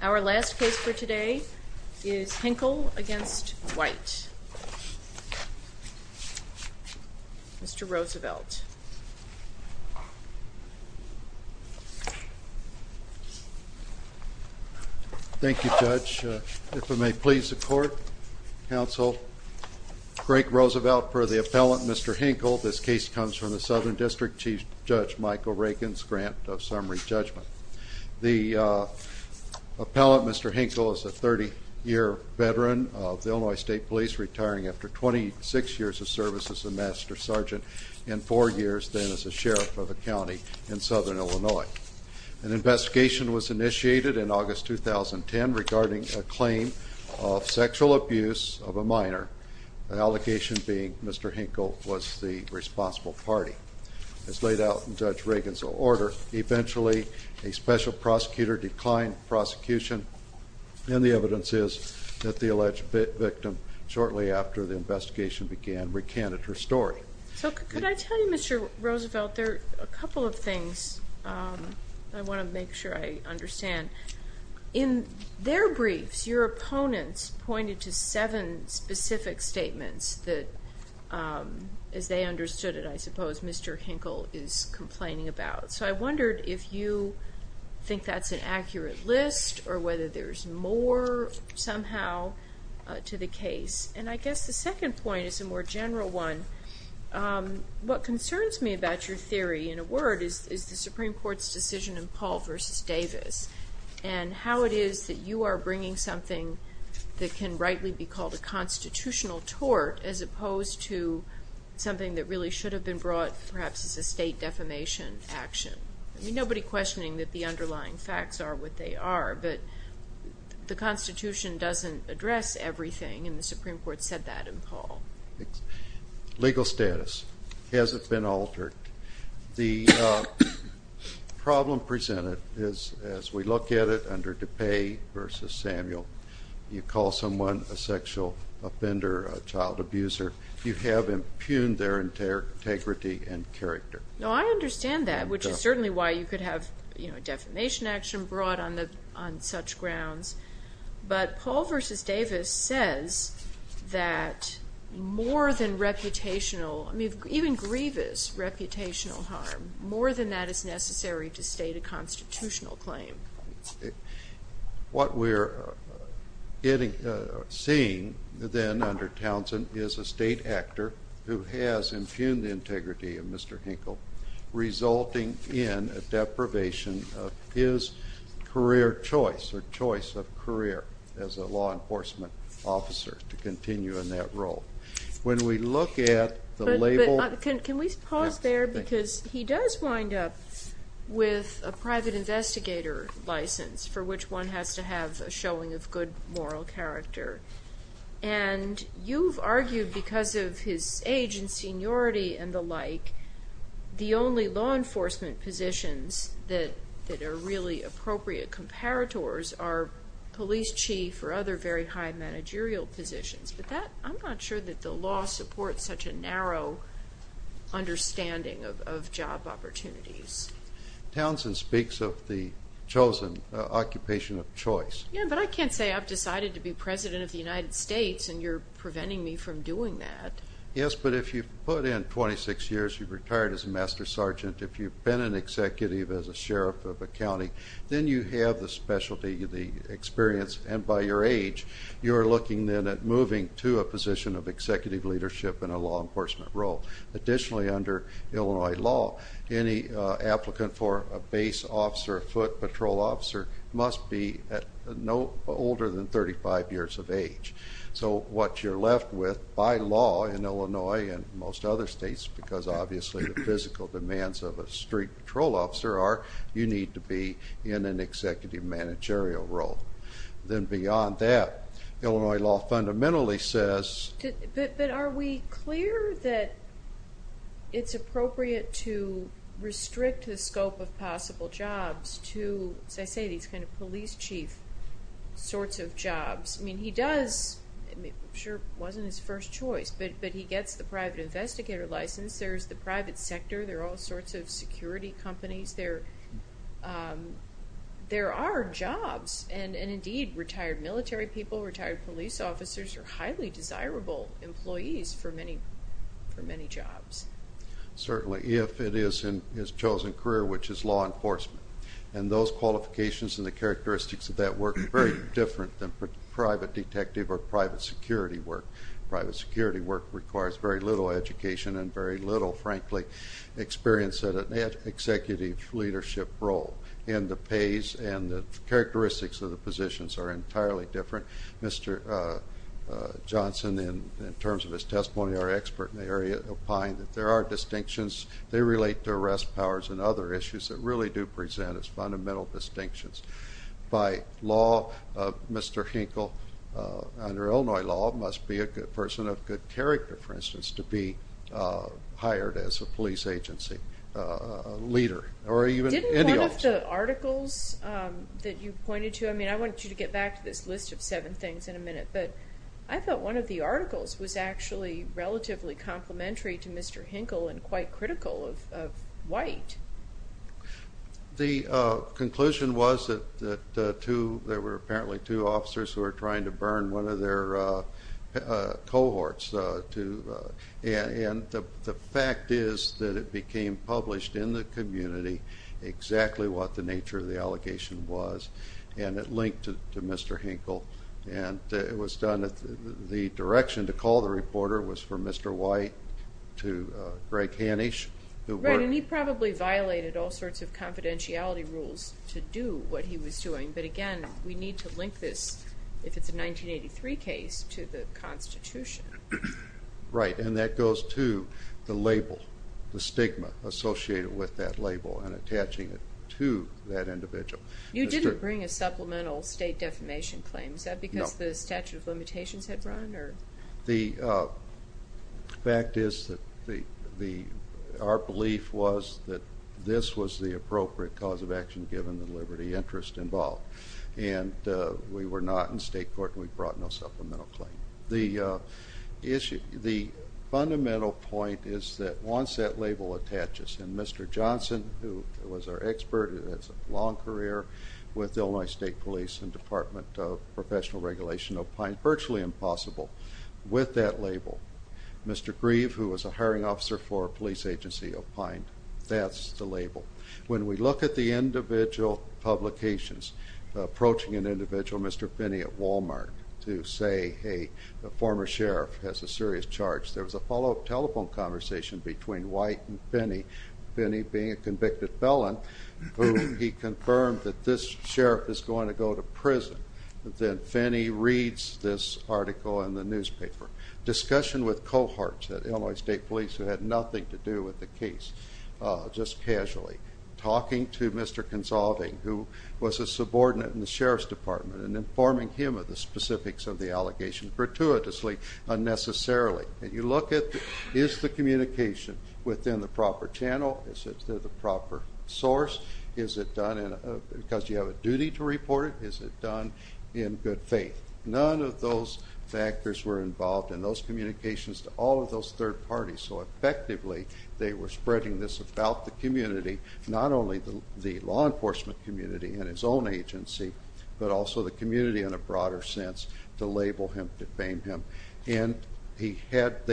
Our last case for today is Hinkle v. White. Mr. Roosevelt. Thank you, Judge. If it may please the Court, Counsel, Greg Roosevelt for the appellant, Mr. Hinkle. This case comes from the Southern District Chief Judge Michael Reagan's grant of summary judgment. The appellant, Mr. Hinkle, is a 30-year veteran of the Illinois State Police, retiring after 26 years of service as a Master Sergeant and four years then as a sheriff of a county in Southern Illinois. An investigation was initiated in August 2010 regarding a claim of sexual abuse of a minor, the allegation being Mr. Hinkle was the responsible party. As laid out in Judge Reagan's order, eventually a special prosecutor declined prosecution, and the evidence is that the alleged victim shortly after the investigation began recanted her story. So could I tell you, Mr. Roosevelt, there are a couple of things I want to make sure I understand. In their briefs, your opponents pointed to seven specific statements that, as they understood it, I suppose Mr. Hinkle is complaining about. So I wondered if you think that's an accurate list or whether there's more somehow to the case. And I guess the second point is a more general one. What concerns me about your theory in a word is the Supreme Court's decision in Paul v. Davis and how it is that you are bringing something that can rightly be called a constitutional tort as opposed to something that really should have been brought perhaps as a state defamation action. I mean, nobody questioning that the underlying facts are what they are, but the Constitution doesn't address everything, and the Supreme Court said that in Paul. Legal status hasn't been altered. The problem presented is, as we look at it under DePay v. Samuel, you call someone a sexual offender, a child abuser, you have impugned their integrity and character. No, I understand that, which is certainly why you could have, you know, a defamation action brought on such grounds. But Paul v. Davis says that more than reputational, I mean, even grievous reputational harm, more than that is necessary to state a constitutional claim. What we're seeing then under Townsend is a state actor who has impugned the integrity of Mr. Hinkle, resulting in a deprivation of his career choice or choice of career as a law enforcement officer to continue in that role. When we look at the label of the- But can we pause there because he does wind up with a private investigator license for which one has to have a showing of good moral character. And you've argued because of his age and seniority and the like, the only law enforcement positions that are really appropriate comparators are police chief or other very high managerial positions. But I'm not sure that the law supports such a narrow understanding of job opportunities. Townsend speaks of the chosen occupation of choice. Yeah, but I can't say I've decided to be president of the United States and you're preventing me from doing that. Yes, but if you've put in 26 years, you've retired as a master sergeant, if you've been an executive as a sheriff of a county, then you have the specialty, the experience. And by your age, you're looking then at moving to a position of executive leadership in a law enforcement role. Additionally, under Illinois law, any applicant for a base officer, a foot patrol officer, must be no older than 35 years of age. So what you're left with by law in Illinois and most other states, because obviously the physical demands of a street patrol officer are you need to be in an executive managerial role. Then beyond that, Illinois law fundamentally says... But are we clear that it's appropriate to restrict the scope of possible jobs to, as I say, these kind of police chief sorts of jobs? I mean, he does, I'm sure it wasn't his first choice, but he gets the private investigator license, there's the private sector, there are all sorts of security companies, there are jobs. And indeed, retired military people, retired police officers, are highly desirable employees for many jobs. Certainly, if it is in his chosen career, which is law enforcement. And those qualifications and the characteristics of that work are very different than private detective or private security work. Private security work requires very little education and very little, frankly, experience in an executive leadership role. And the pays and the characteristics of the positions are entirely different. Mr. Johnson, in terms of his testimony, our expert in the area, opined that there are distinctions. They relate to arrest powers and other issues that really do present as fundamental distinctions. By law, Mr. Hinkle, under Illinois law, must be a person of good character, for instance, to be hired as a police agency leader or even any officer. One of the articles that you pointed to, I mean, I want you to get back to this list of seven things in a minute, but I thought one of the articles was actually relatively complementary to Mr. Hinkle and quite critical of White. The conclusion was that there were apparently two officers who were trying to burn one of their cohorts. And the fact is that it became published in the community exactly what the nature of the allegation was, and it linked to Mr. Hinkle. And it was done at the direction to call the reporter was from Mr. White to Greg Hanish. Right, and he probably violated all sorts of confidentiality rules to do what he was doing. But again, we need to link this, if it's a 1983 case, to the Constitution. Right, and that goes to the label, the stigma associated with that label and attaching it to that individual. You didn't bring a supplemental state defamation claim. Is that because the statute of limitations had run? The fact is that our belief was that this was the appropriate cause of action given the liberty interest involved. And we were not in state court, and we brought no supplemental claim. The fundamental point is that once that label attaches, and Mr. Johnson, who was our expert and has a long career with Illinois State Police and Department of Professional Regulation of Pine, virtually impossible with that label. Mr. Grieve, who was a hiring officer for a police agency of Pine, that's the label. When we look at the individual publications, approaching an individual, Mr. Finney at Walmart, to say, hey, a former sheriff has a serious charge, there was a follow-up telephone conversation between White and Finney, Finney being a convicted felon, who he confirmed that this sheriff is going to go to prison. Then Finney reads this article in the newspaper. Discussion with cohorts at Illinois State Police who had nothing to do with the case, just casually. Talking to Mr. Consolving, who was a subordinate in the sheriff's department, and informing him of the specifics of the allegation gratuitously unnecessarily. And you look at, is the communication within the proper channel? Is it through the proper source? Is it done because you have a duty to report it? Is it done in good faith? None of those factors were involved in those communications to all of those third parties. So effectively, they were spreading this about the community, not only the law enforcement community and his own agency, but also the community in a broader sense to label him, defame him. And they had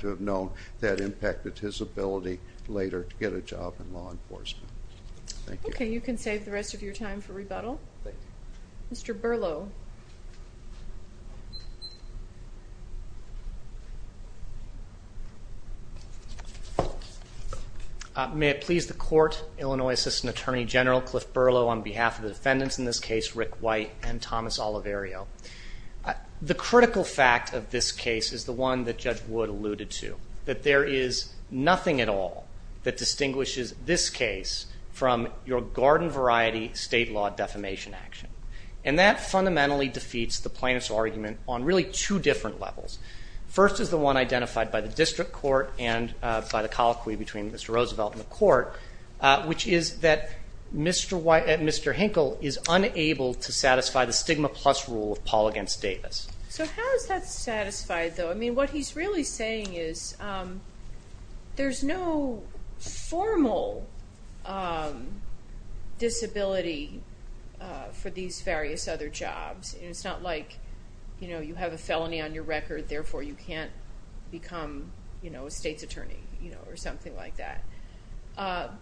to have known that impacted his ability later to get a job in law enforcement. Thank you. Okay, you can save the rest of your time for rebuttal. Thank you. Mr. Berlow. May it please the court, Illinois Assistant Attorney General Cliff Berlow on behalf of the defendants in this case, Rick White and Thomas Oliverio. The critical fact of this case is the one that Judge Wood alluded to, that there is nothing at all that distinguishes this case from your garden variety state law defamation action. And that fundamentally defeats the plaintiff's argument on really two different levels. First is the one identified by the district court and by the colloquy between Mr. Roosevelt and the court, which is that Mr. Hinkle is unable to satisfy the stigma plus rule of Paul against Davis. So how is that satisfied, though? I mean, what he's really saying is there's no formal disability for these various other jobs. It's not like you have a felony on your record, therefore you can't become a state's attorney or something like that.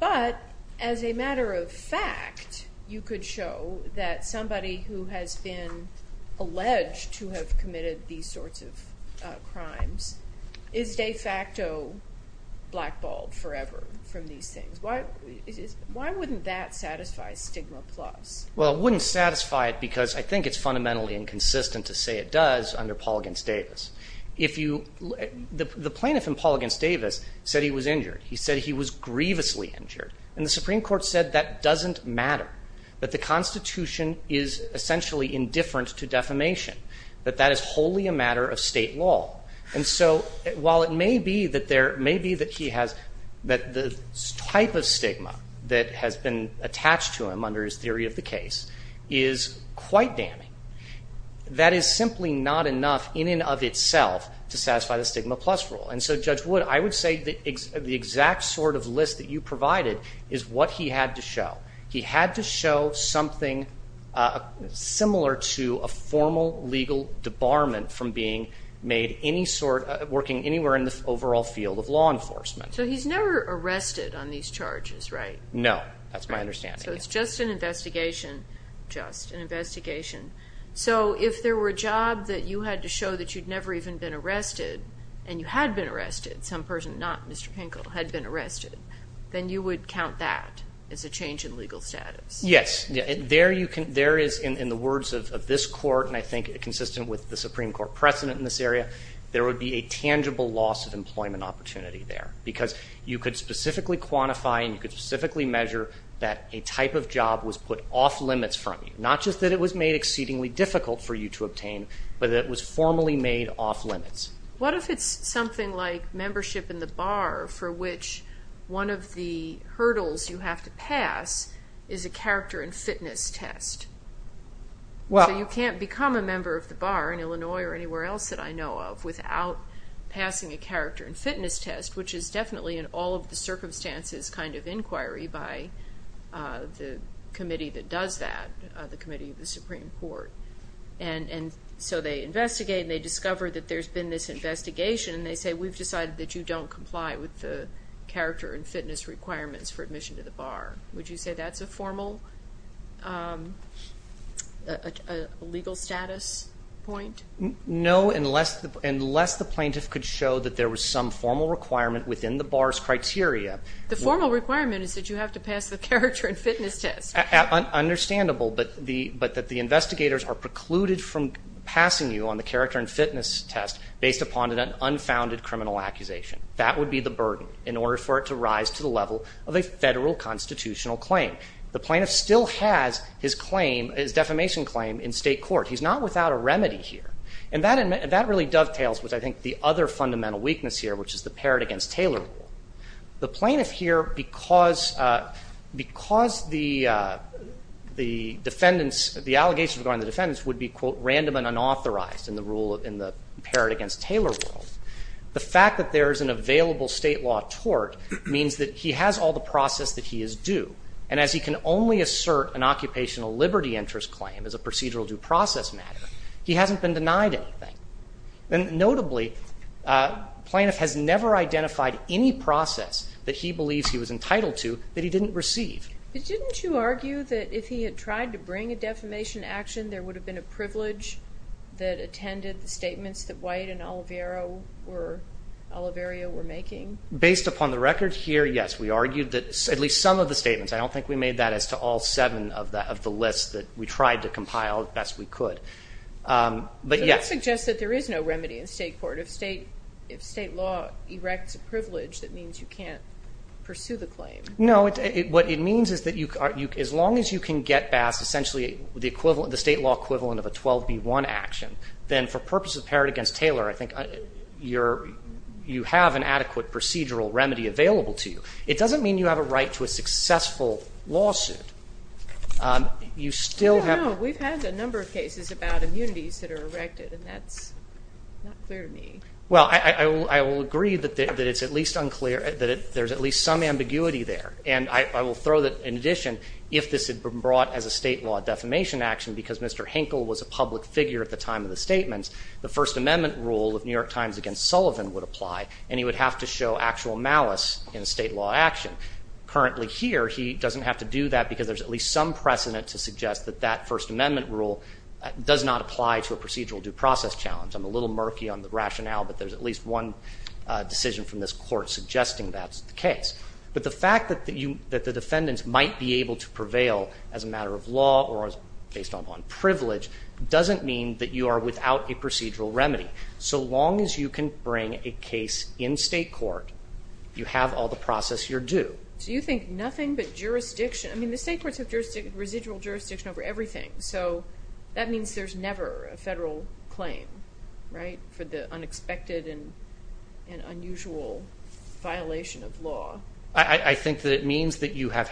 But as a matter of fact, you could show that somebody who has been alleged to have committed these sorts of crimes is de facto blackballed forever from these things. Why wouldn't that satisfy stigma plus? Well, it wouldn't satisfy it because I think it's fundamentally inconsistent to say it does under Paul against Davis. The plaintiff in Paul against Davis said he was injured. He said he was grievously injured. And the Supreme Court said that doesn't matter, that the Constitution is essentially indifferent to defamation, that that is wholly a matter of State law. And so while it may be that there – maybe that he has – that the type of stigma that has been attached to him under his theory of the case is quite damning, that is simply not enough in and of itself to satisfy the stigma plus rule. And so, Judge Wood, I would say the exact sort of list that you provided is what he had to show. He had to show something similar to a formal legal debarment from being made any sort – working anywhere in the overall field of law enforcement. So he's never arrested on these charges, right? No. That's my understanding. So it's just an investigation, just an investigation. So if there were a job that you had to show that you'd never even been arrested and you had been arrested – some person, not Mr. Hinkle, had been arrested – then you would count that as a change in legal status? Yes. There you can – there is, in the words of this Court and I think consistent with the Supreme Court precedent in this area, there would be a tangible loss of employment opportunity there because you could specifically quantify and you could specifically measure that a type of job was put off limits from you, not just that it was made exceedingly difficult for you to obtain, but that it was formally made off limits. What if it's something like membership in the bar for which one of the hurdles you have to pass is a character and fitness test? Well – So you can't become a member of the bar in Illinois or anywhere else that I know of without passing a character and fitness test, which is definitely in all of the circumstances kind of inquiry by the committee that does that, the committee of the Supreme Court. And so they investigate and they discover that there's been this investigation and they say, we've decided that you don't comply with the character and fitness requirements for admission to the bar. Would you say that's a formal legal status point? No, unless the plaintiff could show that there was some formal requirement within the bar's criteria. The formal requirement is that you have to pass the character and fitness test. Understandable, but that the investigators are precluded from passing you on the character and fitness test based upon an unfounded criminal accusation. That would be the burden in order for it to rise to the level of a federal constitutional claim. The plaintiff still has his claim, his defamation claim in state court. He's not without a remedy here. And that really dovetails with, I think, the other fundamental weakness here, which is the Parrott v. Taylor rule. The plaintiff here, because the defendants, the allegations regarding the defendants would be, quote, random and unauthorized in the rule, in the Parrott v. Taylor rule, the fact that there is an available state law tort means that he has all the process that he is due. And as he can only assert an occupational liberty interest claim as a procedural due process matter, he hasn't been denied anything. And notably, the plaintiff has never identified any process that he believes he was entitled to that he didn't receive. But didn't you argue that if he had tried to bring a defamation action, there would have been a privilege that attended the statements that White and Oliverio were making? Based upon the record here, yes. We argued that at least some of the statements, I don't think we made that as to all seven of the lists that we tried to compile as best we could. But, yes. But that suggests that there is no remedy in state court. If state law erects a privilege, that means you can't pursue the claim. No. What it means is that as long as you can get past essentially the state law equivalent of a 12b-1 action, then for purposes of Parrott v. Taylor, I think you have an adequate procedural remedy available to you. It doesn't mean you have a right to a successful lawsuit. You still have to. No, we've had a number of cases about immunities that are erected, and that's not clear to me. Well, I will agree that it's at least unclear, that there's at least some ambiguity there. And I will throw that in addition, if this had been brought as a state law defamation action because Mr. Henkel was a public figure at the time of the statements, the First Amendment rule of New York Times against Sullivan would apply, and he would have to show actual malice in state law action. Currently here, he doesn't have to do that because there's at least some precedent to suggest that that First Amendment rule does not apply to a procedural due process challenge. I'm a little murky on the rationale, but there's at least one decision from this Court suggesting that's the case. But the fact that the defendants might be able to prevail as a matter of law or based on privilege doesn't mean that you are without a procedural remedy. So long as you can bring a case in state court, you have all the process you're due. So you think nothing but jurisdiction. I mean, the state courts have residual jurisdiction over everything. So that means there's never a federal claim, right, for the unexpected and unusual violation of law. I think that it means that you have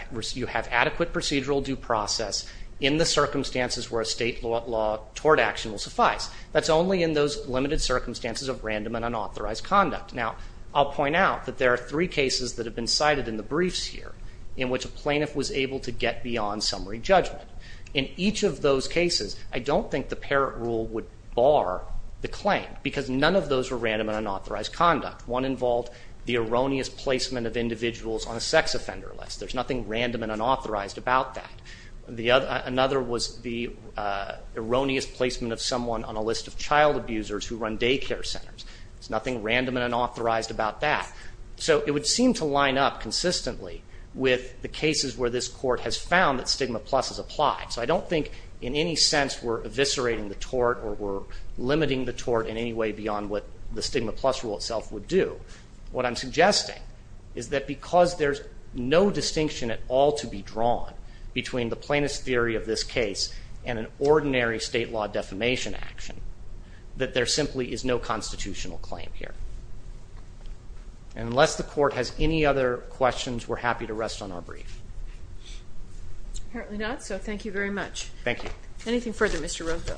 adequate procedural due process in the circumstances where a state law tort action will suffice. That's only in those limited circumstances of random and unauthorized conduct. Now, I'll point out that there are three cases that have been cited in the briefs here in which a plaintiff was able to get beyond summary judgment. In each of those cases, I don't think the Parrott rule would bar the claim because none of those were random and unauthorized conduct. One involved the erroneous placement of individuals on a sex offender list. There's nothing random and unauthorized about that. Another was the erroneous placement of someone on a list of child abusers who run daycare centers. There's nothing random and unauthorized about that. So it would seem to line up consistently with the cases where this Court has found that stigma plus is applied. So I don't think in any sense we're eviscerating the tort or we're limiting the tort in any way beyond what the stigma plus rule itself would do. What I'm suggesting is that because there's no distinction at all to be drawn between the plaintiff's theory of this case and an ordinary state law defamation action, that there simply is no constitutional claim here. Unless the Court has any other questions, we're happy to rest on our brief. Apparently not, so thank you very much. Thank you. Anything further, Mr. Rodeville?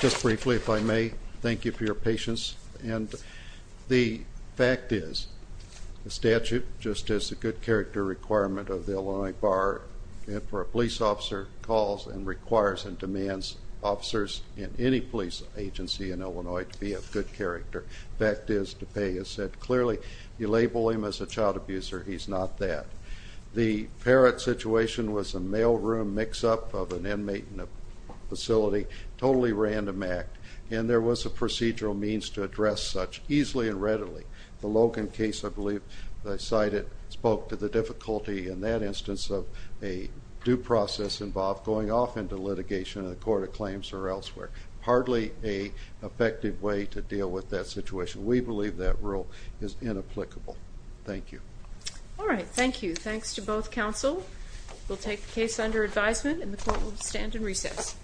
Just briefly, if I may, thank you for your patience. The fact is the statute, just as a good character requirement of the Illinois Bar, if a police officer calls and requires and demands officers in any police agency in Illinois to be of good character, the fact is DuPay has said clearly if you label him as a child abuser, he's not that. The Parrott situation was a mailroom mix-up of an inmate in a facility, totally random act, and there was a procedural means to address such, easily and readily. The Logan case, I believe I cited, spoke to the difficulty in that instance of a due process involved going off into litigation in the court of claims or elsewhere. Hardly an effective way to deal with that situation. We believe that rule is inapplicable. Thank you. All right, thank you. Thanks to both counsel. We'll take the case under advisement, and the Court will stand in recess.